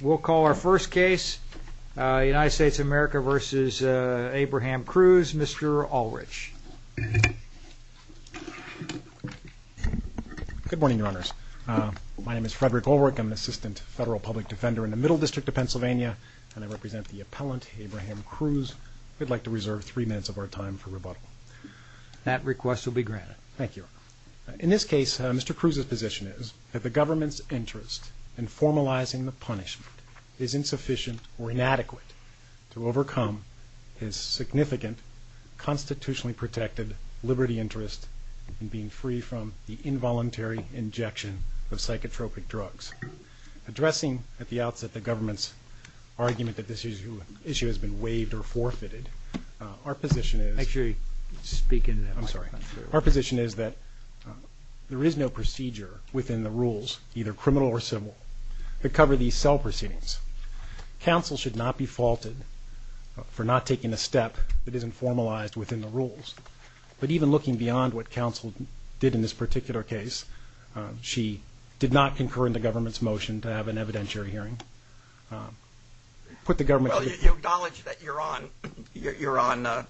We'll call our first case, United States of America v. Abraham Cruz, Mr. Ulrich. Good morning, Your Honors. My name is Frederick Ulrich. I'm an assistant federal public defender in the Middle District of Pennsylvania, and I represent the appellant, Abraham Cruz. We'd like to reserve three minutes of our time for rebuttal. That request will be granted. Thank you. In this case, Mr. Cruz's position is that the government's interest in formalizing the punishment is insufficient or inadequate to overcome his significant constitutionally protected liberty interest in being free from the involuntary injection of psychotropic drugs. Addressing at the outset the government's argument that this issue has been waived or forfeited, our position is... Actually, speak into that microphone. Sorry. Our position is that there is no procedure within the rules, either criminal or civil, to cover these cell proceedings. Counsel should not be faulted for not taking a step that isn't formalized within the rules. But even looking beyond what counsel did in this particular case, she did not concur in the government's motion to have an evidentiary hearing. Put the government... Well, you acknowledge that you're on...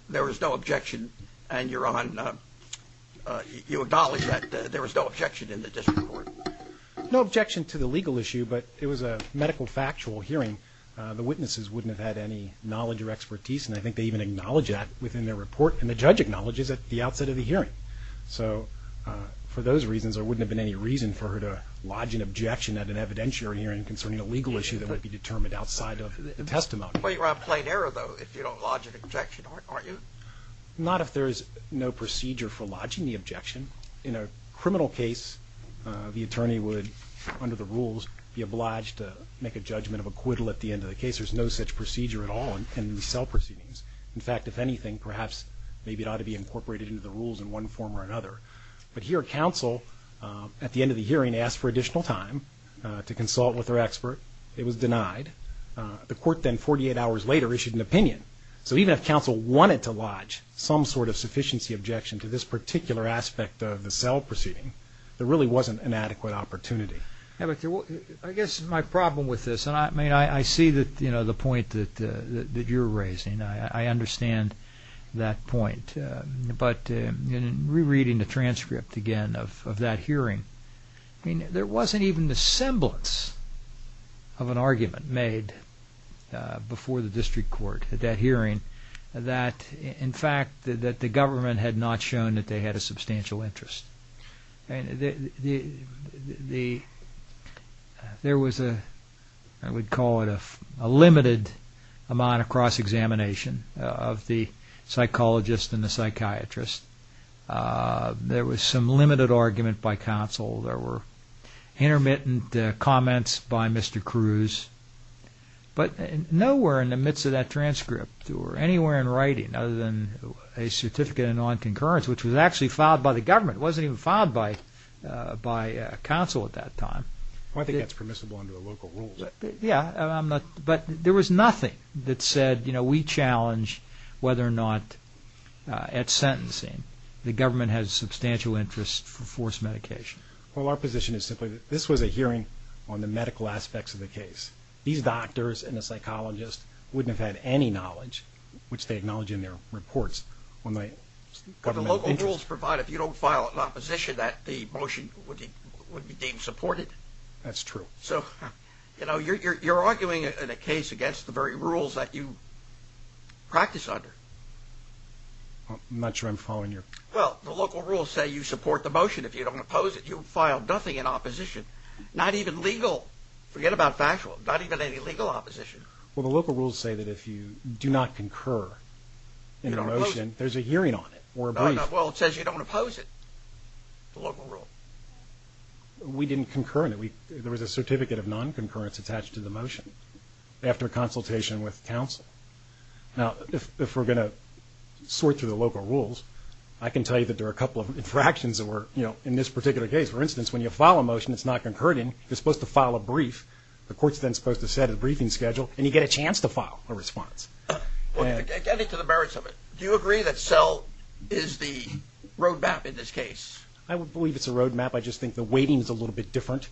There was no objection, and you're on... You acknowledge that there was no objection in the district court. No objection to the legal issue, but it was a medical factual hearing. The witnesses wouldn't have had any knowledge or expertise, and I think they even acknowledge that within their report, and the judge acknowledges it at the outset of the hearing. So for those reasons, there wouldn't have been any reason for her to lodge an objection at an evidentiary hearing concerning a legal issue that would be determined outside of the testimony. Well, you're on plain error, though, if you don't lodge an objection, aren't you? Not if there is no procedure for lodging the objection. In a criminal case, the attorney would, under the rules, be obliged to make a judgment of acquittal at the end of the case. There's no such procedure at all in cell proceedings. In fact, if anything, perhaps maybe it ought to be incorporated into the rules in one form or another. But here, counsel, at the end of the hearing, asked for additional time to consult with her expert. It was denied. The court then 48 hours later issued an opinion. So even if counsel wanted to lodge some sort of sufficiency objection to this particular aspect of the cell proceeding, there really wasn't an adequate opportunity. I guess my problem with this, and I see the point that you're raising. I understand that point. But rereading the transcript again of that hearing, there wasn't even the semblance of an argument made before the district court at that hearing that, in fact, the government had not shown that they had a substantial interest. There was, I would call it, a limited amount of cross-examination of the psychologist and the psychiatrist. There was some limited argument by counsel. There were intermittent comments by Mr. Cruz. But nowhere in the midst of that transcript or anywhere in writing other than a certificate of non-concurrence, which was actually filed by the government, wasn't even filed by counsel at that time. I think that's permissible under the local rules. Yeah, but there was nothing that said, you know, we challenge whether or not at sentencing the government has substantial interest for forced medication. Well, our position is simply that this was a hearing on the medical aspects of the case. These doctors and the psychologists wouldn't have had any knowledge, which they acknowledge in their reports. Could the local rules provide if you don't file an opposition that the motion would be deemed supported? That's true. So, you know, you're arguing a case against the very rules that you practice under. I'm not sure I'm following your... Well, the local rules say you support the motion. If you don't oppose it, you file nothing in opposition, not even legal. Forget about factual, not even any legal opposition. Well, the local rules say that if you do not concur in a motion, there's a hearing on it or a brief. Well, it says you don't oppose it, the local rule. We didn't concur in it. There was a certificate of non-concurrence attached to the motion after consultation with counsel. Now, if we're going to sort through the local rules, I can tell you that there are a couple of infractions that were, you know, in this particular case. For instance, when you file a motion that's not concurred in, you're supposed to file a brief. The court's then supposed to set a briefing schedule, and you get a chance to file a response. Well, getting to the merits of it, do you agree that SELL is the road map in this case? I don't believe it's a road map. I just think the weighting is a little bit different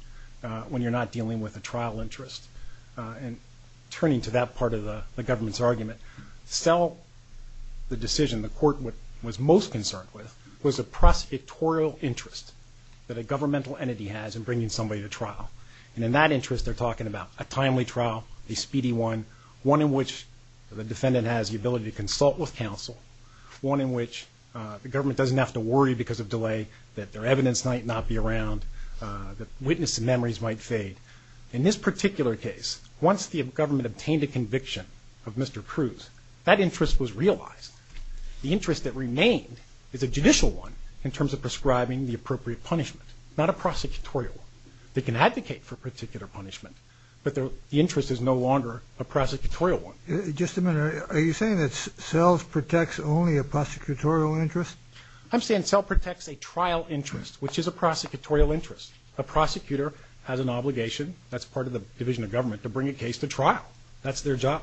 when you're not dealing with a trial interest. And turning to that part of the government's argument, SELL, the decision the court was most concerned with, was a prospectorial interest that a governmental entity has in bringing somebody to trial. And in that interest, they're talking about a timely trial, a speedy one, one in which the defendant has the ability to consult with counsel, one in which the government doesn't have to worry because of delay that their evidence might not be around, that witnesses' memories might fade. In this particular case, once the government obtained a conviction of Mr. Cruz, that interest was realized. The interest that remained is a judicial one in terms of prescribing the appropriate punishment, not a prosecutorial one. They can advocate for a particular punishment, but the interest is no longer a prosecutorial one. Just a minute. Are you saying that SELL protects only a prosecutorial interest? I'm saying SELL protects a trial interest, which is a prosecutorial interest. A prosecutor has an obligation, that's part of the division of government, to bring a case to trial. That's their job.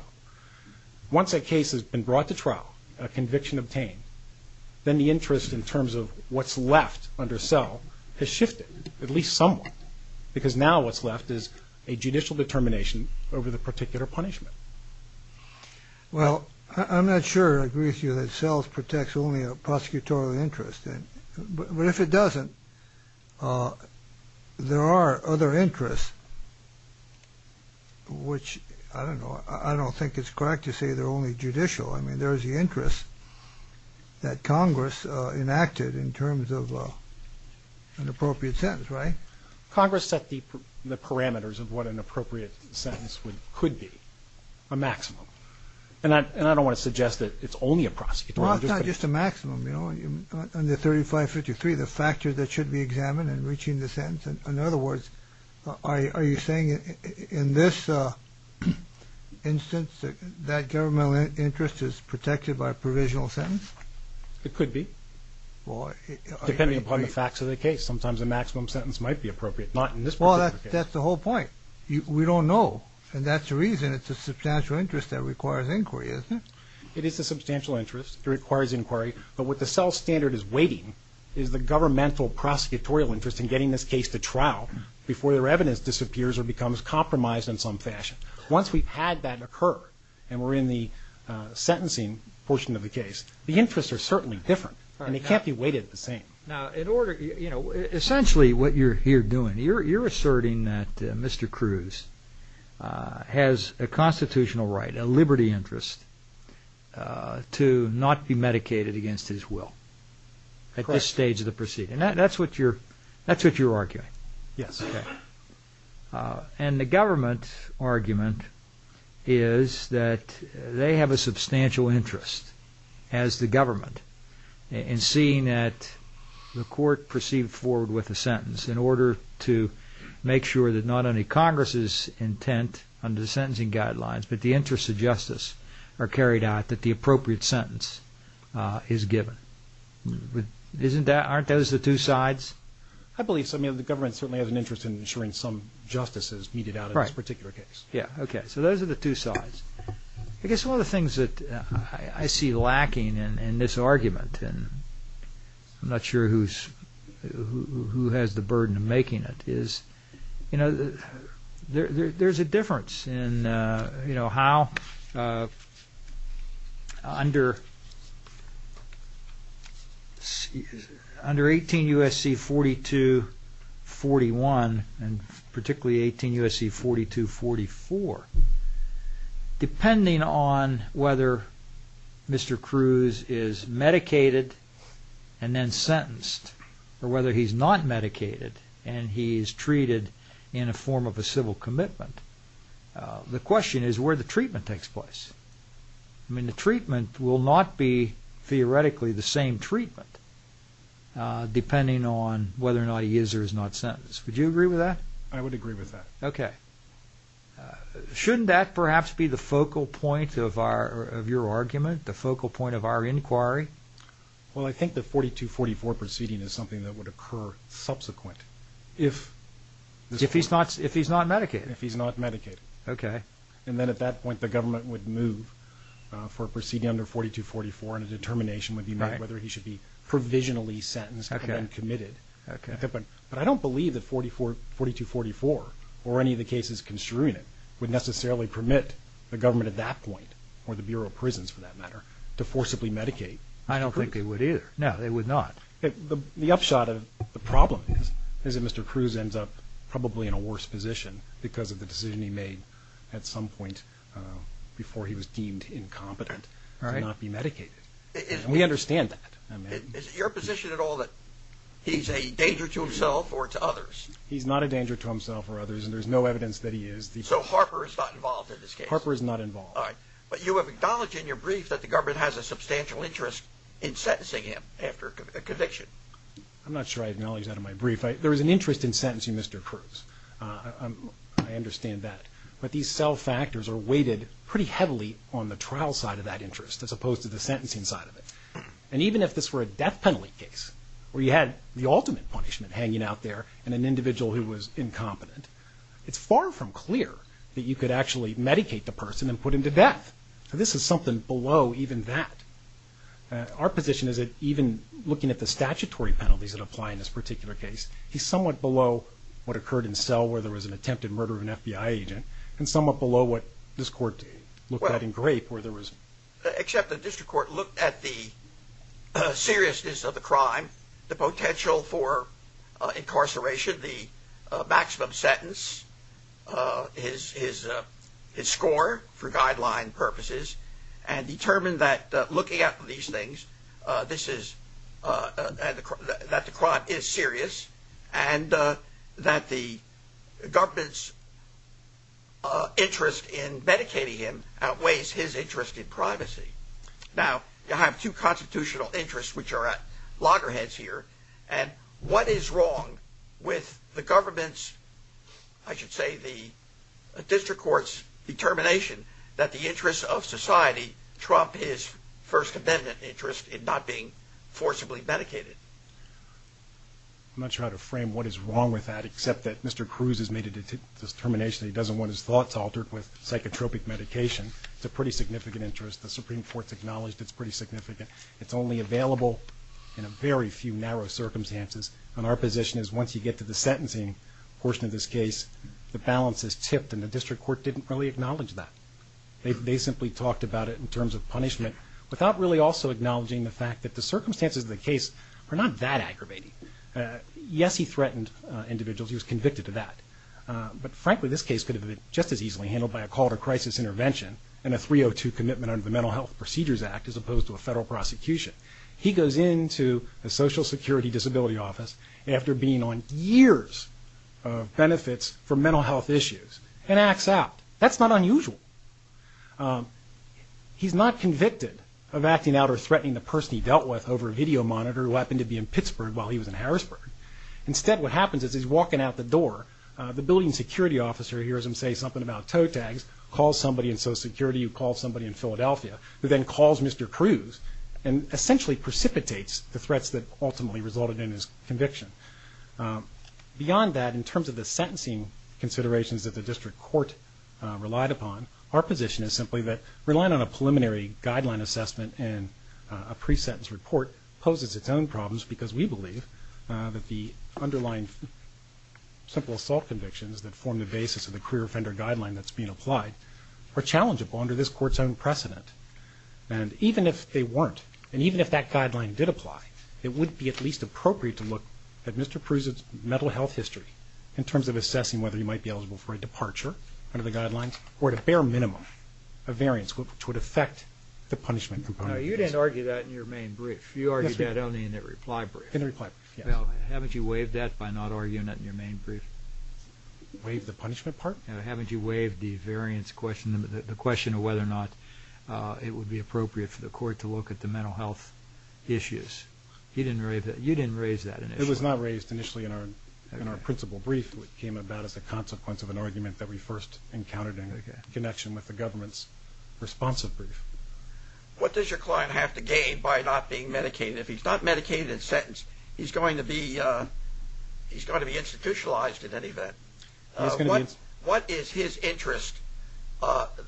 Once a case has been brought to trial, a conviction obtained, then the interest in terms of what's left under SELL has shifted, at least somewhat, because now what's left is a judicial determination over the particular punishment. Well, I'm not sure I agree with you that SELL protects only a prosecutorial interest. But if it doesn't, there are other interests which, I don't know, I don't think it's correct to say they're only judicial. I mean, there is the interest that Congress enacted in terms of an appropriate sentence, right? Congress set the parameters of what an appropriate sentence could be, a maximum. And I don't want to suggest that it's only a prosecutorial interest. Well, it's not just a maximum, you know. Under 3553, the factors that should be examined in reaching the sentence. In other words, are you saying in this instance that that governmental interest is protected by a provisional sentence? It could be, depending upon the facts of the case. Sometimes a maximum sentence might be appropriate, not in this particular case. Well, that's the whole point. We don't know, and that's the reason it's a substantial interest that requires inquiry, isn't it? It is a substantial interest. It requires inquiry. But what the cell standard is weighting is the governmental prosecutorial interest in getting this case to trial before their evidence disappears or becomes compromised in some fashion. Once we've had that occur and we're in the sentencing portion of the case, the interests are certainly different, and they can't be weighted the same. Now, essentially what you're here doing, you're asserting that Mr. Cruz has a constitutional right, a liberty interest, to not be medicated against his will at this stage of the proceeding. Correct. And that's what you're arguing? Yes. And the government argument is that they have a substantial interest, as the government, in seeing that the court proceed forward with a sentence in order to make sure that not only Congress's intent under the sentencing guidelines, but the interests of justice are carried out, that the appropriate sentence is given. Aren't those the two sides? I believe so. I mean, the government certainly has an interest in ensuring some justice is meted out in this particular case. Yeah. Okay. So those are the two sides. I guess one of the things that I see lacking in this argument, and I'm not sure who has the burden of making it, is there's a difference in how under 18 U.S.C. 42-41, and particularly 18 U.S.C. 42-44, depending on whether Mr. Cruz is medicated and then sentenced, or whether he's not medicated and he's treated in a form of a civil commitment, the question is where the treatment takes place. I mean, the treatment will not be theoretically the same treatment, depending on whether or not he is or is not sentenced. Would you agree with that? I would agree with that. Okay. Shouldn't that perhaps be the focal point of your argument, the focal point of our inquiry? Well, I think the 42-44 proceeding is something that would occur subsequent. If he's not medicated? If he's not medicated. Okay. And then at that point, the government would move for a proceeding under 42-44, and a determination would be made whether he should be provisionally sentenced and committed. Okay. But I don't believe that 42-44, or any of the cases construing it, would necessarily permit the government at that point, or the Bureau of Prisons for that matter, to forcibly medicate Mr. Cruz. I don't think they would either. No, they would not. The upshot of the problem is that Mr. Cruz ends up probably in a worse position because of the decision he made at some point before he was deemed incompetent to not be medicated. All right. We understand that. Is it your position at all that he's a danger to himself or to others? He's not a danger to himself or others, and there's no evidence that he is. So Harper is not involved in this case? Harper is not involved. All right. But you have acknowledged in your brief that the government has a substantial interest in sentencing him after a conviction. I'm not sure I acknowledged that in my brief. There is an interest in sentencing Mr. Cruz. I understand that. But these cell factors are weighted pretty heavily on the trial side of that interest as opposed to the sentencing side of it. And even if this were a death penalty case where you had the ultimate punishment hanging out there and an individual who was incompetent, it's far from clear that you could actually medicate the person and put him to death. So this is something below even that. Our position is that even looking at the statutory penalties that apply in this particular case, he's somewhat below what occurred in Cell where there was an attempted murder of an FBI agent and somewhat below what this Court looked at in Grape where there was – except the district court looked at the seriousness of the crime, the potential for incarceration, the maximum sentence, his score for guideline purposes, and determined that looking at these things, this is – that the crime is serious and that the government's interest in medicating him outweighs his interest in privacy. Now, you have two constitutional interests which are at loggerheads here. And what is wrong with the government's – I should say the district court's determination that the interest of society trumped his First Amendment interest in not being forcibly medicated? I'm not sure how to frame what is wrong with that except that Mr. Cruz has made a determination that he doesn't want his thoughts altered with psychotropic medication. It's a pretty significant interest. The Supreme Court's acknowledged it's pretty significant. It's only available in a very few narrow circumstances. And our position is once you get to the sentencing portion of this case, the balance is tipped and the district court didn't really acknowledge that. They simply talked about it in terms of punishment without really also acknowledging the fact that the circumstances of the case were not that aggravating. Yes, he threatened individuals. He was convicted of that. But frankly, this case could have been just as easily handled by a call to crisis intervention and a 302 commitment under the Mental Health Procedures Act as opposed to a federal prosecution. He goes into the Social Security Disability Office after being on years of benefits for mental health issues and acts out. That's not unusual. He's not convicted of acting out or threatening the person he dealt with over a video monitor who happened to be in Pittsburgh while he was in Harrisburg. Instead, what happens is he's walking out the door. The building security officer hears him say something about toe tags, calls somebody in Social Security who calls somebody in Philadelphia who then calls Mr. Cruz and essentially precipitates the threats that ultimately resulted in his conviction. Beyond that, in terms of the sentencing considerations that the district court relied upon, our position is simply that relying on a preliminary guideline assessment and a pre-sentence report poses its own problems because we believe that the underlying simple assault convictions that form the basis of the career offender guideline that's being applied are challengeable under this court's own precedent. And even if they weren't, and even if that guideline did apply, it would be at least appropriate to look at Mr. Cruz's mental health history in terms of assessing whether he might be eligible for a departure under the guidelines or at a bare minimum a variance which would affect the punishment component. Now, you didn't argue that in your main brief. You argued that only in the reply brief. In the reply brief, yes. Now, haven't you waived that by not arguing that in your main brief? Waived the punishment part? Haven't you waived the variance question, the question of whether or not it would be appropriate for the court to look at the mental health issues? You didn't raise that initially. It was not raised initially in our principal brief. It came about as a consequence of an argument that we first encountered in connection with the government's responsive brief. What does your client have to gain by not being medicated? If he's not medicated in sentence, he's going to be institutionalized in any event. What is his interest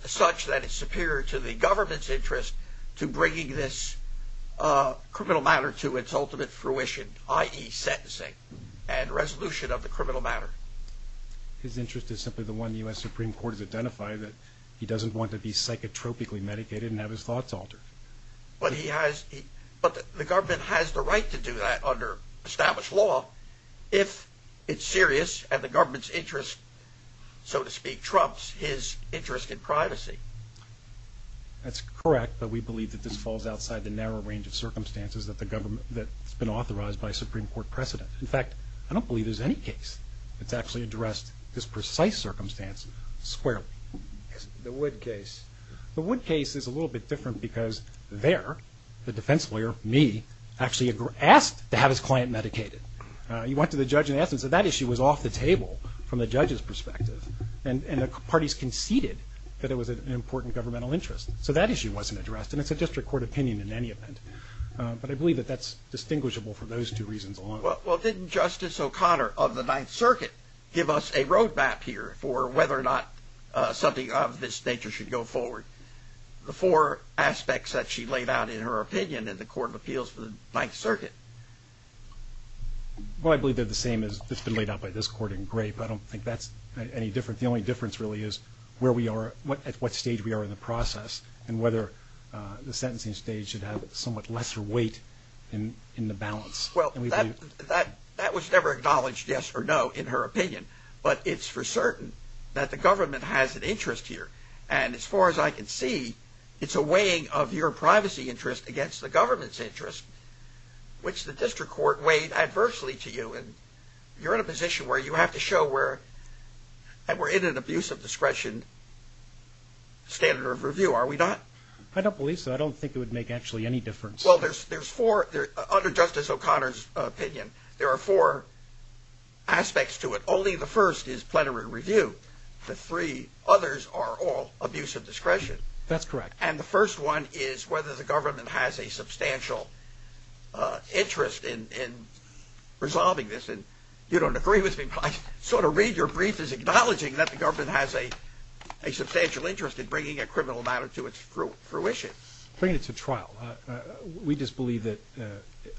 such that it's superior to the government's interest to bringing this criminal matter to its ultimate fruition, i.e. sentencing and resolution of the criminal matter? His interest is simply the one the U.S. Supreme Court has identified, that he doesn't want to be psychotropically medicated and have his thoughts altered. But the government has the right to do that under established law if it's serious and the government's interest, so to speak, trumps his interest in privacy. That's correct, but we believe that this falls outside the narrow range of circumstances that's been authorized by a Supreme Court precedent. In fact, I don't believe there's any case that's actually addressed this precise circumstance squarely. The Wood case. The Wood case is a little bit different because there, the defense lawyer, me, actually asked to have his client medicated. He went to the judge and asked him. So that issue was off the table from the judge's perspective and the parties conceded that it was an important governmental interest. So that issue wasn't addressed and it's a district court opinion in any event. But I believe that that's distinguishable for those two reasons alone. Well, didn't Justice O'Connor of the Ninth Circuit give us a road map here for whether or not something of this nature should go forward? The four aspects that she laid out in her opinion in the Court of Appeals for the Ninth Circuit. Well, I believe they're the same as what's been laid out by this court in Grape. I don't think that's any different. The only difference really is where we are, at what stage we are in the process and whether the sentencing stage should have somewhat lesser weight in the balance. Well, that was never acknowledged yes or no in her opinion, but it's for certain that the government has an interest here. And as far as I can see, it's a weighing of your privacy interest against the government's interest, which the district court weighed adversely to you. And you're in a position where you have to show we're in an abuse of discretion standard of review, are we not? I don't believe so. I don't think it would make actually any difference. Well, there's four, under Justice O'Connor's opinion, there are four aspects to it. Only the first is plenary review. The three others are all abuse of discretion. That's correct. And the first one is whether the government has a substantial interest in resolving this. And you don't agree with me, but I sort of read your brief as acknowledging that the government has a substantial interest in bringing a criminal matter to its fruition. Bringing it to trial. We just believe that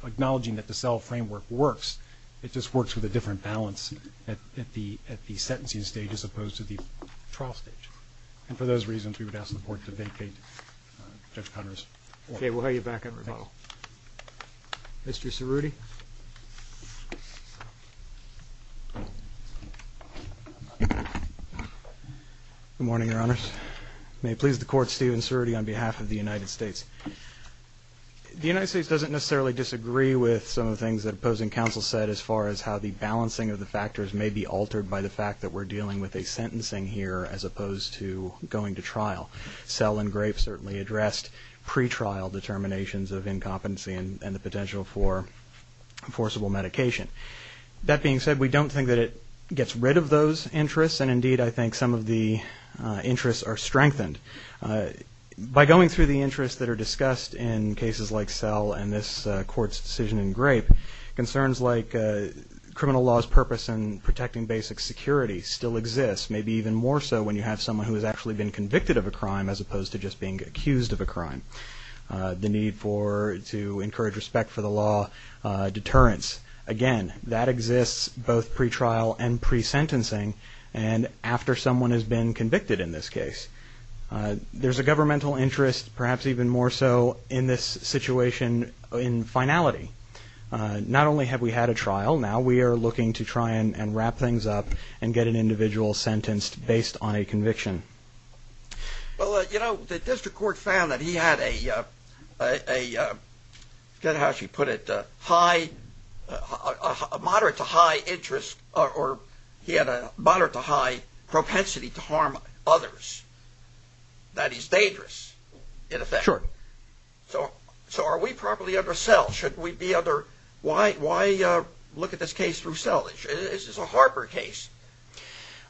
acknowledging that the cell framework works, it just works with a different balance at the sentencing stage as opposed to the trial stage. And for those reasons, we would ask the Court to vacate Judge O'Connor's report. Okay. We'll have you back at rebuttal. Mr. Cerruti. Good morning, Your Honors. May it please the Court, Stephen Cerruti on behalf of the United States. The United States doesn't necessarily disagree with some of the things that opposing counsel said as far as how the balancing of the factors may be altered by the fact that we're dealing with a sentencing here as opposed to going to trial. Cell engraved certainly addressed pretrial determinations of incompetency and the potential for forcible medication. That being said, we don't think that it gets rid of those interests, and indeed I think some of the interests are strengthened. By going through the interests that are discussed in cases like Cell and this Court's decision in Grape, concerns like criminal law's purpose in protecting basic security still exists, maybe even more so when you have someone who has actually been convicted of a crime as opposed to just being accused of a crime. The need to encourage respect for the law, deterrence. Again, that exists both pretrial and pre-sentencing, and after someone has been convicted in this case. There's a governmental interest, perhaps even more so in this situation in finality. Not only have we had a trial, now we are looking to try and wrap things up and get an individual sentenced based on a conviction. Well, you know, the District Court found that he had a, forget how she put it, a moderate to high interest, or he had a moderate to high propensity to harm others. That is dangerous, in effect. So are we properly under Cell? Why look at this case through Cell? This is a Harper case.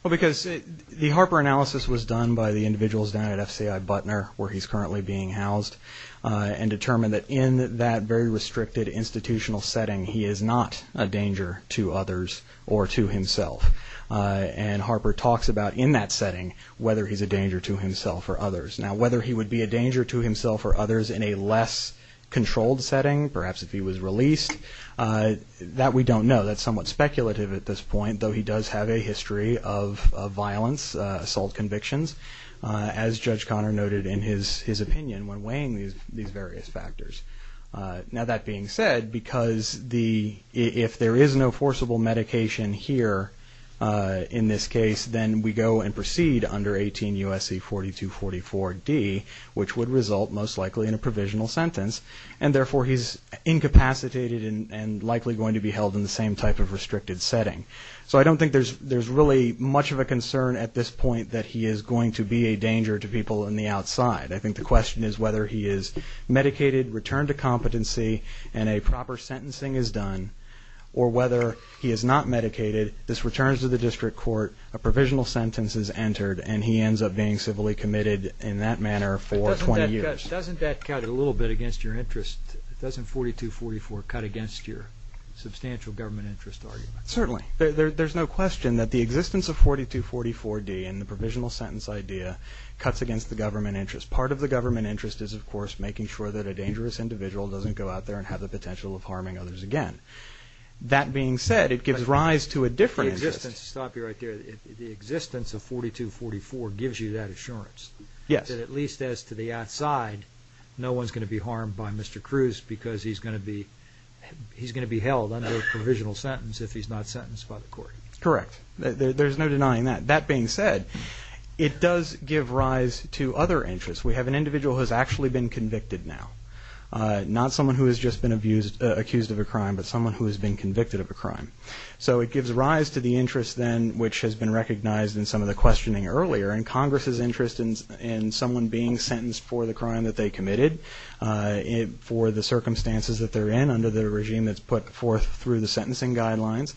Well, because the Harper analysis was done by the individuals down at FCI Butner, where he's currently being housed, and determined that in that very restricted institutional setting, he is not a danger to others or to himself. And Harper talks about, in that setting, whether he's a danger to himself or others. Now, whether he would be a danger to himself or others in a less controlled setting, perhaps if he was released, that we don't know. That's somewhat speculative at this point, though he does have a history of violence, assault convictions, as Judge Connor noted in his opinion when weighing these various factors. Now, that being said, because if there is no forcible medication here in this case, then we go and proceed under 18 U.S.C. 4244-D, which would result most likely in a provisional sentence, and therefore he's incapacitated and likely going to be held in the same type of restricted setting. So I don't think there's really much of a concern at this point I think the question is whether he is medicated, returned to competency, and a proper sentencing is done, or whether he is not medicated, this returns to the district court, a provisional sentence is entered, and he ends up being civilly committed in that manner for 20 years. Doesn't that cut a little bit against your interest? Doesn't 4244 cut against your substantial government interest argument? Certainly. There's no question that the existence of 4244-D and the provisional sentence idea cuts against the government interest. Part of the government interest is, of course, making sure that a dangerous individual doesn't go out there and have the potential of harming others again. That being said, it gives rise to a different interest. Stop you right there. The existence of 4244 gives you that assurance? Yes. That at least as to the outside, no one's going to be harmed by Mr. Cruz because he's going to be held under a provisional sentence if he's not sentenced by the court? Correct. There's no denying that. That being said, it does give rise to other interests. We have an individual who has actually been convicted now, not someone who has just been accused of a crime, but someone who has been convicted of a crime. So it gives rise to the interest then, which has been recognized in some of the questioning earlier, in Congress's interest in someone being sentenced for the crime that they committed, for the circumstances that they're in under the regime that's put forth through the sentencing guidelines.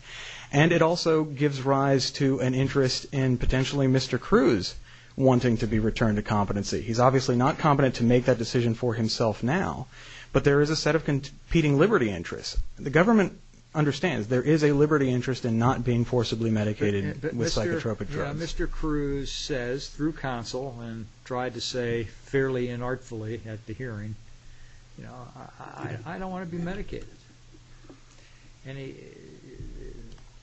And it also gives rise to an interest in potentially Mr. Cruz wanting to be returned to competency. He's obviously not competent to make that decision for himself now, but there is a set of competing liberty interests. The government understands there is a liberty interest in not being forcibly medicated with psychotropic drugs. But Mr. Cruz says through counsel and tried to say fairly inartfully at the hearing, I don't want to be medicated.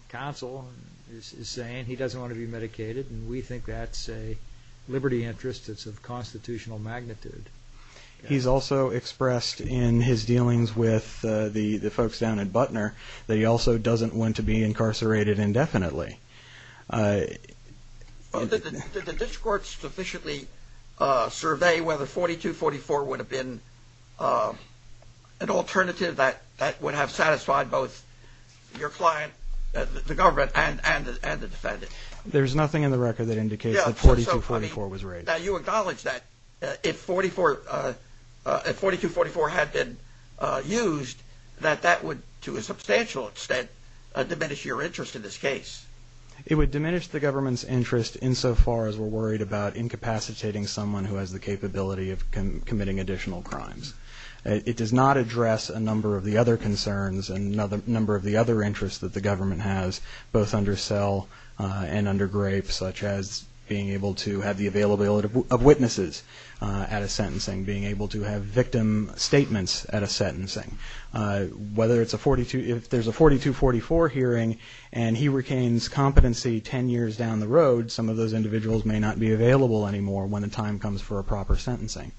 Counsel is saying he doesn't want to be medicated, and we think that's a liberty interest that's of constitutional magnitude. He's also expressed in his dealings with the folks down at Butner that he also doesn't want to be incarcerated indefinitely. Did the district courts sufficiently survey whether 4244 would have been an alternative that would have satisfied both your client, the government, and the defendant? There's nothing in the record that indicates that 4244 was raised. Now you acknowledge that if 4244 had been used, that that would, to a substantial extent, diminish your interest in this case. It would diminish the government's interest insofar as we're worried about incapacitating someone who has the capability of committing additional crimes. It does not address a number of the other concerns and a number of the other interests that the government has, both under Sell and under Grape, such as being able to have the availability of witnesses at a sentencing, being able to have victim statements at a sentencing. If there's a 4244 hearing and he retains competency 10 years down the road, some of those individuals may not be available anymore when the time comes for a proper sentencing.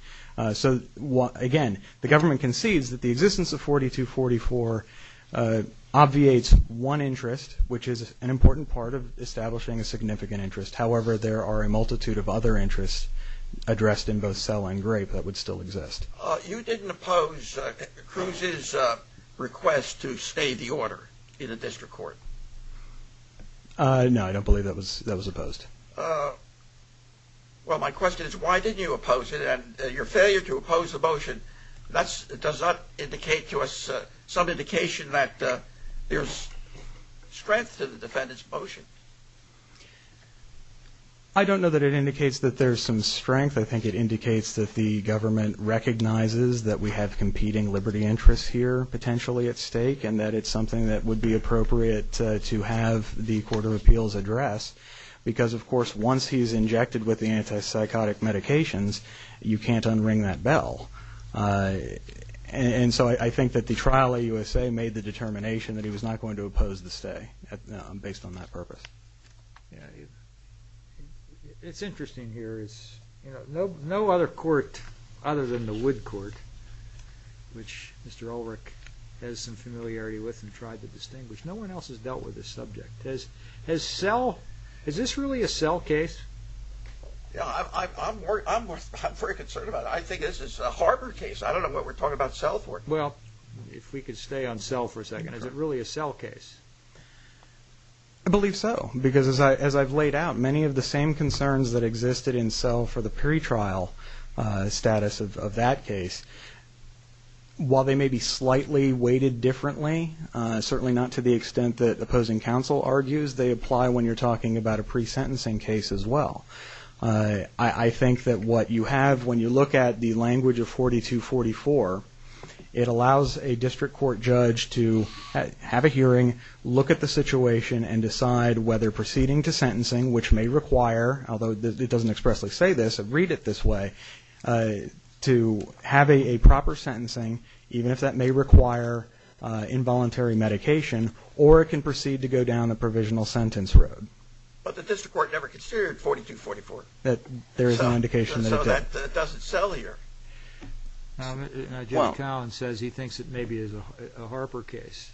So again, the government concedes that the existence of 4244 obviates one interest, which is an important part of establishing a significant interest. However, there are a multitude of other interests addressed in both Sell and Grape that would still exist. You didn't oppose Cruz's request to stay the order in a district court. No, I don't believe that was opposed. Well, my question is, why didn't you oppose it? And your failure to oppose the motion does not indicate to us some indication that there's strength to the defendant's motion. I don't know that it indicates that there's some strength. I think it indicates that the government recognizes that we have competing liberty interests here potentially at stake and that it's something that would be appropriate to have the Court of Appeals address because, of course, once he's injected with the antipsychotic medications, you can't unring that bell. And so I think that the trial at USA made the determination that he was not going to oppose the stay based on that purpose. It's interesting here. No other court other than the Wood Court, which Mr. Ulrich has some familiarity with and tried to distinguish, no one else has dealt with this subject. Is this really a Sell case? I'm very concerned about it. I think this is a Harbor case. I don't know what we're talking about Sell for. Well, if we could stay on Sell for a second. Is it really a Sell case? I believe so because as I've laid out, many of the same concerns that existed in Sell for the pretrial status of that case, while they may be slightly weighted differently, certainly not to the extent that opposing counsel argues, they apply when you're talking about a pre-sentencing case as well. I think that what you have when you look at the language of 4244, it allows a district court judge to have a hearing, look at the situation, and decide whether proceeding to sentencing, which may require, although it doesn't expressly say this, read it this way, to have a proper sentencing, even if that may require involuntary medication, or it can proceed to go down a provisional sentence road. But the district court never considered 4244. There is an indication that it did. So that doesn't Sell here. Jay Collins says he thinks it maybe is a Harper case.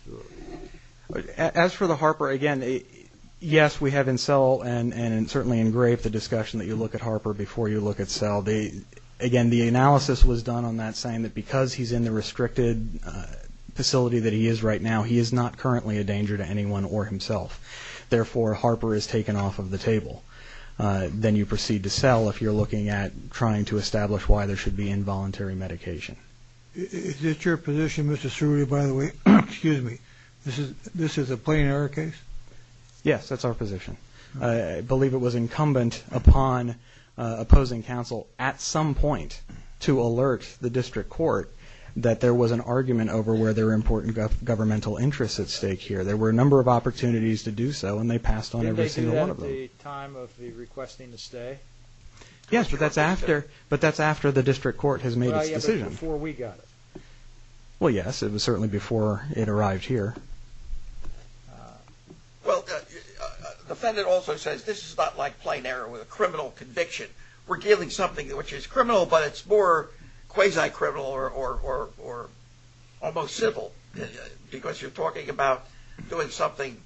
As for the Harper, again, yes, we have in Sell and certainly in Grape the discussion that you look at Harper before you look at Sell. Again, the analysis was done on that saying that because he's in the restricted facility that he is right now, he is not currently a danger to anyone or himself. Therefore, Harper is taken off of the table. Then you proceed to Sell if you're looking at trying to establish why there should be involuntary medication. Is it your position, Mr. Suri, by the way, excuse me, this is this is a plain error case. Yes, that's our position. I believe it was incumbent upon opposing counsel at some point to alert the district court that there was an argument over where their important governmental interests at stake here. There were a number of opportunities to do so, and they passed on every single one of them. Did they do that at the time of the requesting to stay? Yes, but that's after the district court has made its decision. Before we got it. Well, yes, it was certainly before it arrived here. Well, the defendant also says this is not like plain error with a criminal conviction. We're dealing with something which is criminal, but it's more quasi criminal or almost civil because you're talking about doing something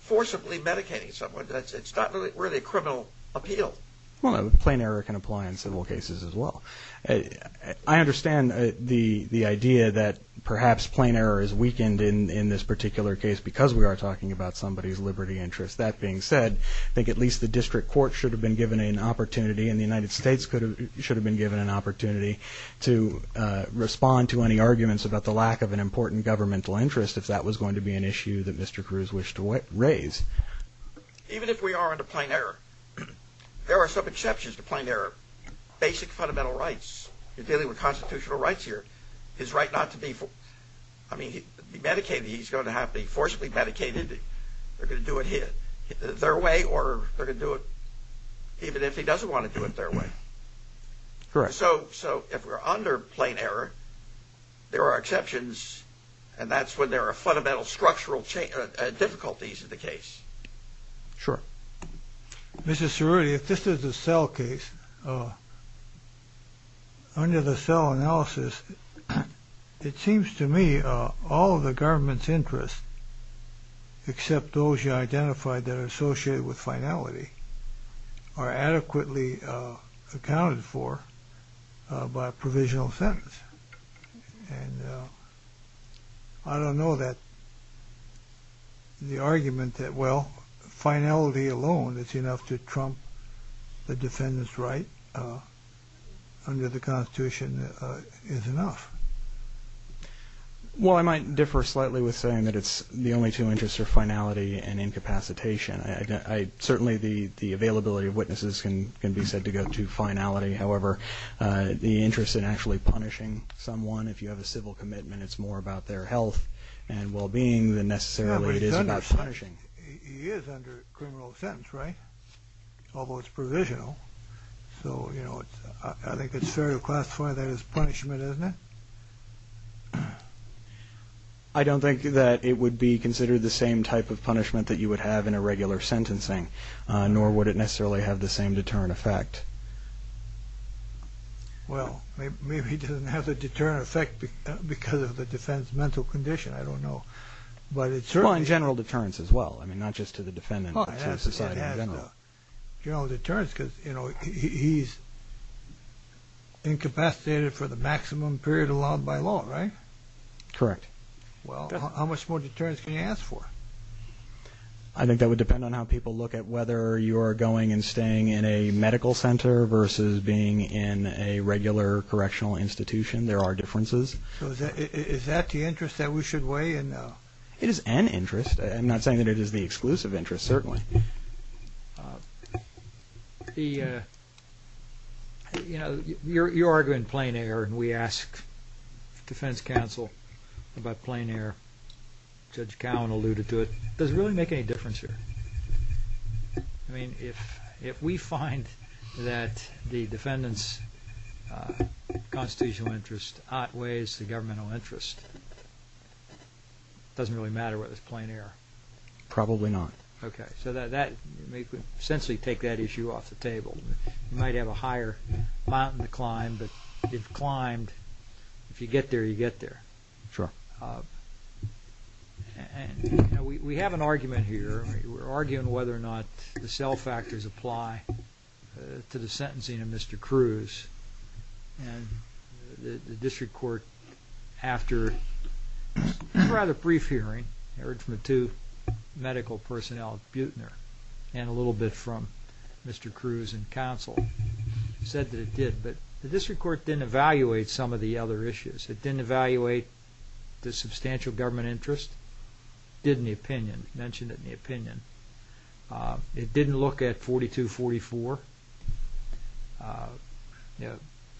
forcibly medicating someone. It's not really a criminal appeal. Well, plain error can apply in civil cases as well. I understand the idea that perhaps plain error is weakened in this particular case because we are talking about somebody's liberty interest. That being said, I think at least the district court should have been given an opportunity, and the United States should have been given an opportunity to respond to any arguments about the lack of an important governmental interest, if that was going to be an issue that Mr. Cruz wished to raise. Even if we are under plain error, there are some exceptions to plain error. Basic fundamental rights. You're dealing with constitutional rights here. His right not to be, I mean, he medicated. He's going to have to be forcibly medicated. They're going to do it their way or they're going to do it even if he doesn't want to do it their way. Correct. So if we're under plain error, there are exceptions, and that's when there are fundamental structural difficulties in the case. Sure. Mr. Cerulli, if this is a cell case, under the cell analysis, it seems to me all of the government's interests, except those you identified that are associated with finality, are adequately accounted for by a provisional sentence. And I don't know that the argument that, well, finality alone is enough to trump the defendant's right under the Constitution is enough. Well, I might differ slightly with saying that it's the only two interests are finality and incapacitation. Certainly the availability of witnesses can be said to go to finality. However, the interest in actually punishing someone, if you have a civil commitment, it's more about their health and well-being than necessarily it is about punishing. He is under criminal sentence, right? Although it's provisional. So, I think it's fair to classify that as punishment, isn't it? I don't think that it would be considered the same type of punishment that you would have in a regular sentencing, nor would it necessarily have the same deterrent effect. Well, maybe it doesn't have the deterrent effect because of the defendant's mental condition. I don't know. and general deterrence as well. I mean, not just to the defendant, but to society in general. General deterrence, because, you know, he's incapacitated for the maximum period allowed by law, right? Correct. Well, how much more deterrence can you ask for? I think that would depend on how people look at whether you are going and staying in a medical center versus being in a regular correctional institution. There are differences. So, is that the interest that we should weigh in? It is an interest. I'm not saying that it is the exclusive interest, certainly. You know, you're arguing plain air, and we asked the defense counsel about plain air. Judge Cowan alluded to it. Does it really make any difference here? I mean, if we find that the defendant's constitutional interest outweighs the governmental interest, it doesn't really matter whether it's plain air. Probably not. Okay. So, that would essentially take that issue off the table. You might have a higher mountain to climb, but if you climbed, if you get there, you get there. Sure. And, you know, we have an argument here. We're arguing whether or not the cell factors apply to the sentencing of Mr. Cruz. And, the district court, after a rather brief hearing, I heard from the two medical personnel, Buechner, and a little bit from Mr. Cruz and counsel, said that it did. But the district court didn't evaluate some of the other issues. It didn't evaluate the substantial government interest. It did in the opinion. It mentioned it in the opinion. It didn't look at 4244.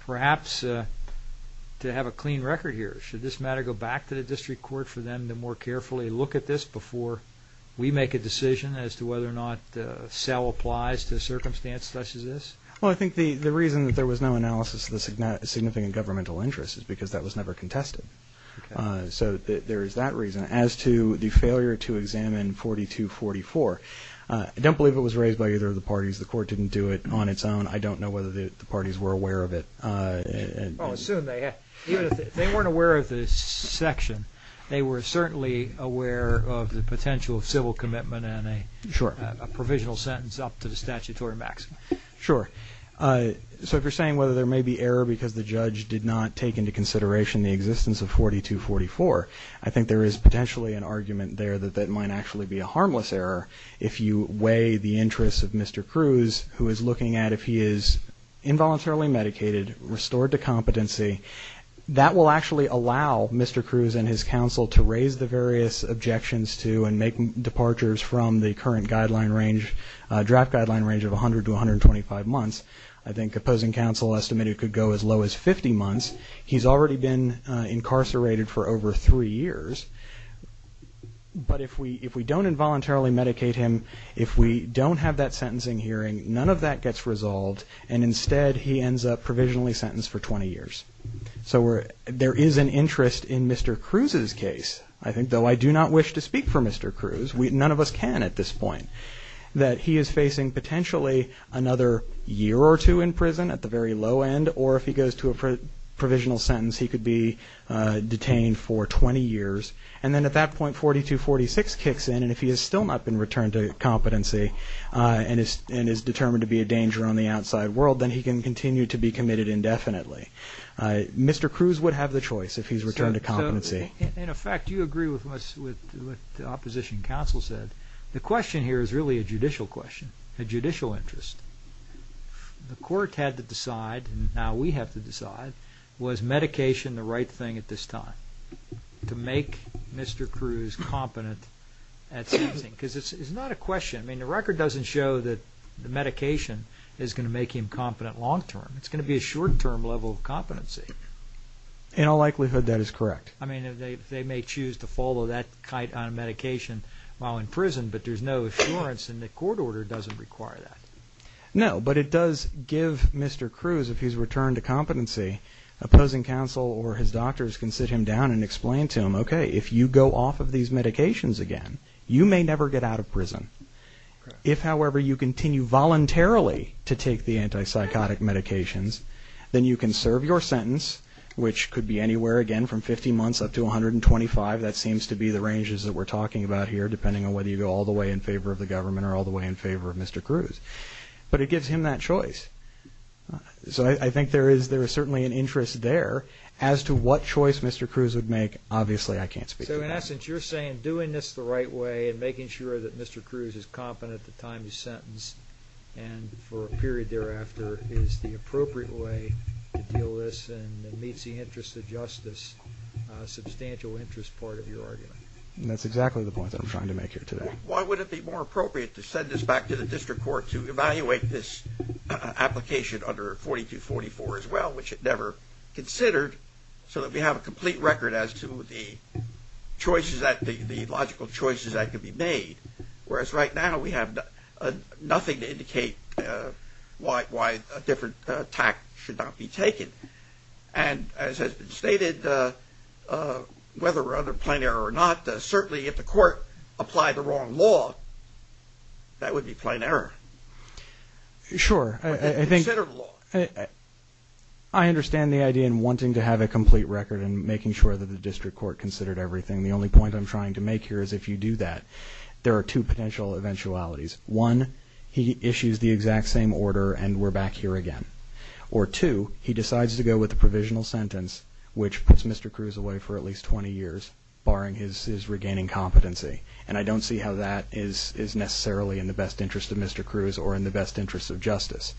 Perhaps, to have a clean record here, should this matter go back to the district court for them to more carefully look at this before we make a decision as to whether or not the cell applies to a circumstance such as this? Well, I think the reason that there was no analysis of the significant governmental interest is because that was never contested. So, there is that reason. As to the failure to examine 4244, I don't believe it was raised by either of the parties. The court didn't do it on its own. I don't know whether the parties were aware of it. Well, assume they had. They weren't aware of this section. They were certainly aware of the potential civil commitment and a provisional sentence up to the statutory maximum. Sure. So, if you're saying whether there may be error because the judge did not take into consideration the existence of 4244, I think there is potentially an argument there that that might actually be a harmless error. If you weigh the interests of Mr. Cruz, who is looking at if he is involuntarily medicated, restored to competency, that will actually allow Mr. to make departures from the current draft guideline range of 100 to 125 months. I think opposing counsel estimated it could go as low as 50 months. He's already been incarcerated for over three years. But if we don't involuntarily medicate him, if we don't have that sentencing hearing, none of that gets resolved, and instead he ends up provisionally sentenced for 20 years. So, there is an interest in Mr. Cruz's case. I think, though I do not wish to speak for Mr. Cruz, none of us can at this point, that he is facing potentially another year or two in prison at the very low end, or if he goes to a provisional sentence, he could be detained for 20 years. And then at that point, 4246 kicks in, and if he has still not been returned to competency, and is determined to be a danger on the outside world, Mr. Cruz would have the choice if he's returned to competency. In effect, you agree with what the opposition counsel said. The question here is really a judicial question, a judicial interest. The court had to decide, and now we have to decide, was medication the right thing at this time to make Mr. Cruz competent at sentencing? Because it's not a question. I mean, the record doesn't show that the medication is going to make him competent long term. It's going to be a short term level of competency. In all likelihood, that is correct. I mean, they may choose to follow that kite on medication while in prison, but there's no assurance, and the court order doesn't require that. No, but it does give Mr. Cruz, if he's returned to competency, opposing counsel or his doctors can sit him down and explain to him, okay, if you go off of these medications again, you may never get out of prison. If, however, you continue voluntarily to take the antipsychotic medications, then you can serve your sentence, which could be anywhere again from 50 months up to 125. That seems to be the ranges that we're talking about here, depending on whether you go all the way in favor of the government or all the way in favor of Mr. Cruz, but it gives him that choice. So I think there is, there is certainly an interest there as to what choice Mr. Cruz would make. Obviously, I can't speak to that. So in essence, you're saying doing this the right way and making sure that Mr. Cruz is competent at the time you sentence and for a period thereafter is the appropriate way to deal with this and meets the interest of justice, substantial interest part of your argument. And that's exactly the point that I'm trying to make here today. Why would it be more appropriate to send this back to the district court to evaluate this application under 4244 as well, which it never considered so that we have a complete record as to the choices that the logical choices that could be made. Whereas right now we have nothing to indicate why, why a different attack should not be taken. And as has been stated, whether or other plain error or not, certainly if the court applied the wrong law, that would be plain error. Sure. I think I understand the idea in wanting to have a complete record and making sure that the district court considered everything. The only point I'm trying to make here is if you do that, there are two potential eventualities. One, he issues the exact same order and we're back here again. Or two, he decides to go with the provisional sentence, which puts Mr. Cruz away for at least 20 years barring his, his regaining competency. And I don't see how that is, is necessarily in the best interest of Mr. Cruz or in the best interest of justice.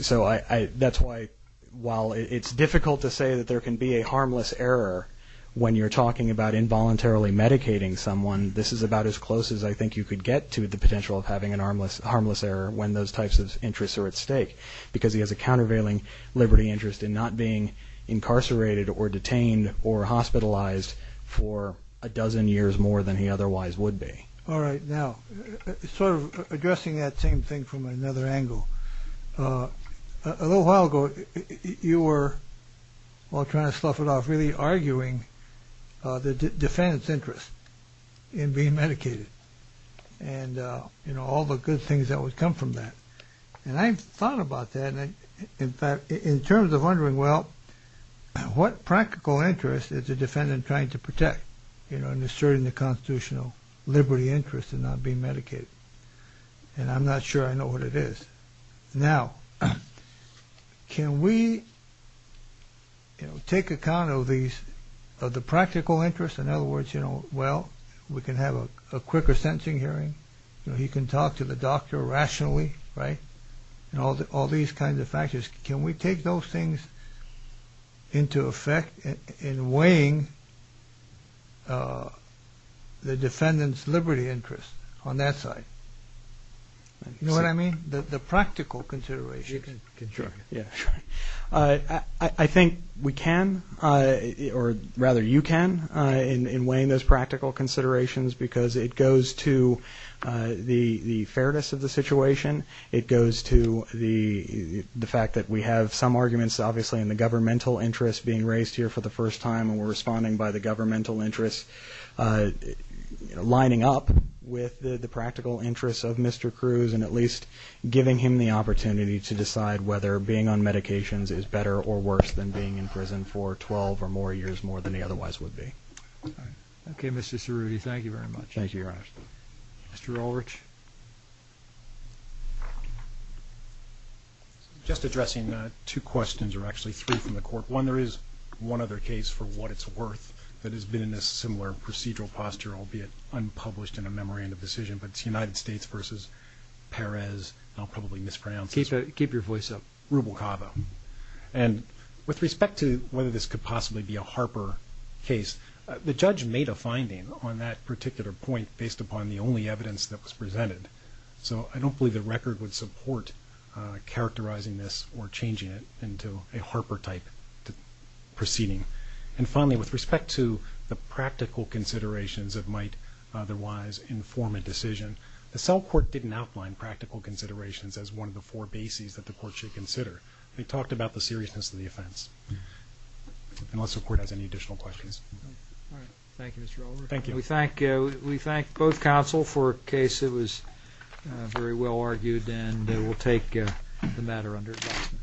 So I, that's why while it's difficult to say that there can be a harmless error when you're talking about involuntarily medicating someone, this is about as close as I think you could get to the potential of having an harmless, harmless error when those types of interests are at stake, because he has a countervailing liberty interest in not being incarcerated or detained or hospitalized for a dozen years more than he otherwise would be. All right. Now sort of addressing that same thing from another angle. A little while ago, you were all trying to stuff it off, really arguing the defense interest. In being medicated and, you know, all the good things that would come from that. And I thought about that. In fact, in terms of wondering, well, what practical interest is the defendant trying to protect, you know, and asserting the constitutional liberty interest in not being medicated. And I'm not sure I know what it is. Now, can we, you know, take account of these, of the practical interest. In other words, you know, well, we can have a quicker sentencing hearing. You know, he can talk to the doctor rationally. Right. And all these kinds of factors. Can we take those things into effect in weighing the defendant's liberty interest on that side? You know what I mean? The practical consideration. Sure. Yeah. Sure. I think we can, or rather you can, in weighing those practical considerations, because it goes to the fairness of the situation. It goes to the fact that we have some arguments, obviously, in the governmental interest being raised here for the first time. And we're responding by the governmental interest, lining up with the practical interests of Mr. Cruz, and at least giving him the opportunity to decide whether being on medications is better or worse than being in prison for 12 or more years, more than he otherwise would be. Okay, Mr. Cerruti. Thank you very much. Thank you, Your Honor. Mr. Ulrich. Just addressing two questions, or actually three from the court. One, there is one other case for what it's worth that has been in a similar procedural posture, albeit unpublished in a memorandum decision, but it's United States versus Perez. I'll probably mispronounce it. Keep your voice up. Rubel-Cava. And with respect to whether this could possibly be a Harper case, the judge made a finding on that particular point based upon the only evidence that was presented. So I don't believe the record would support characterizing this or changing it into a Harper-type proceeding. And finally, with respect to the practical considerations that might otherwise inform a decision, the cell court didn't outline practical considerations as one of the four bases that the court should consider. They talked about the seriousness of the offense. Unless the court has any additional questions. All right. Thank you, Mr. Ulrich. Thank you. We thank both counsel for a case that was very well argued, and we'll take the matter under adjustment.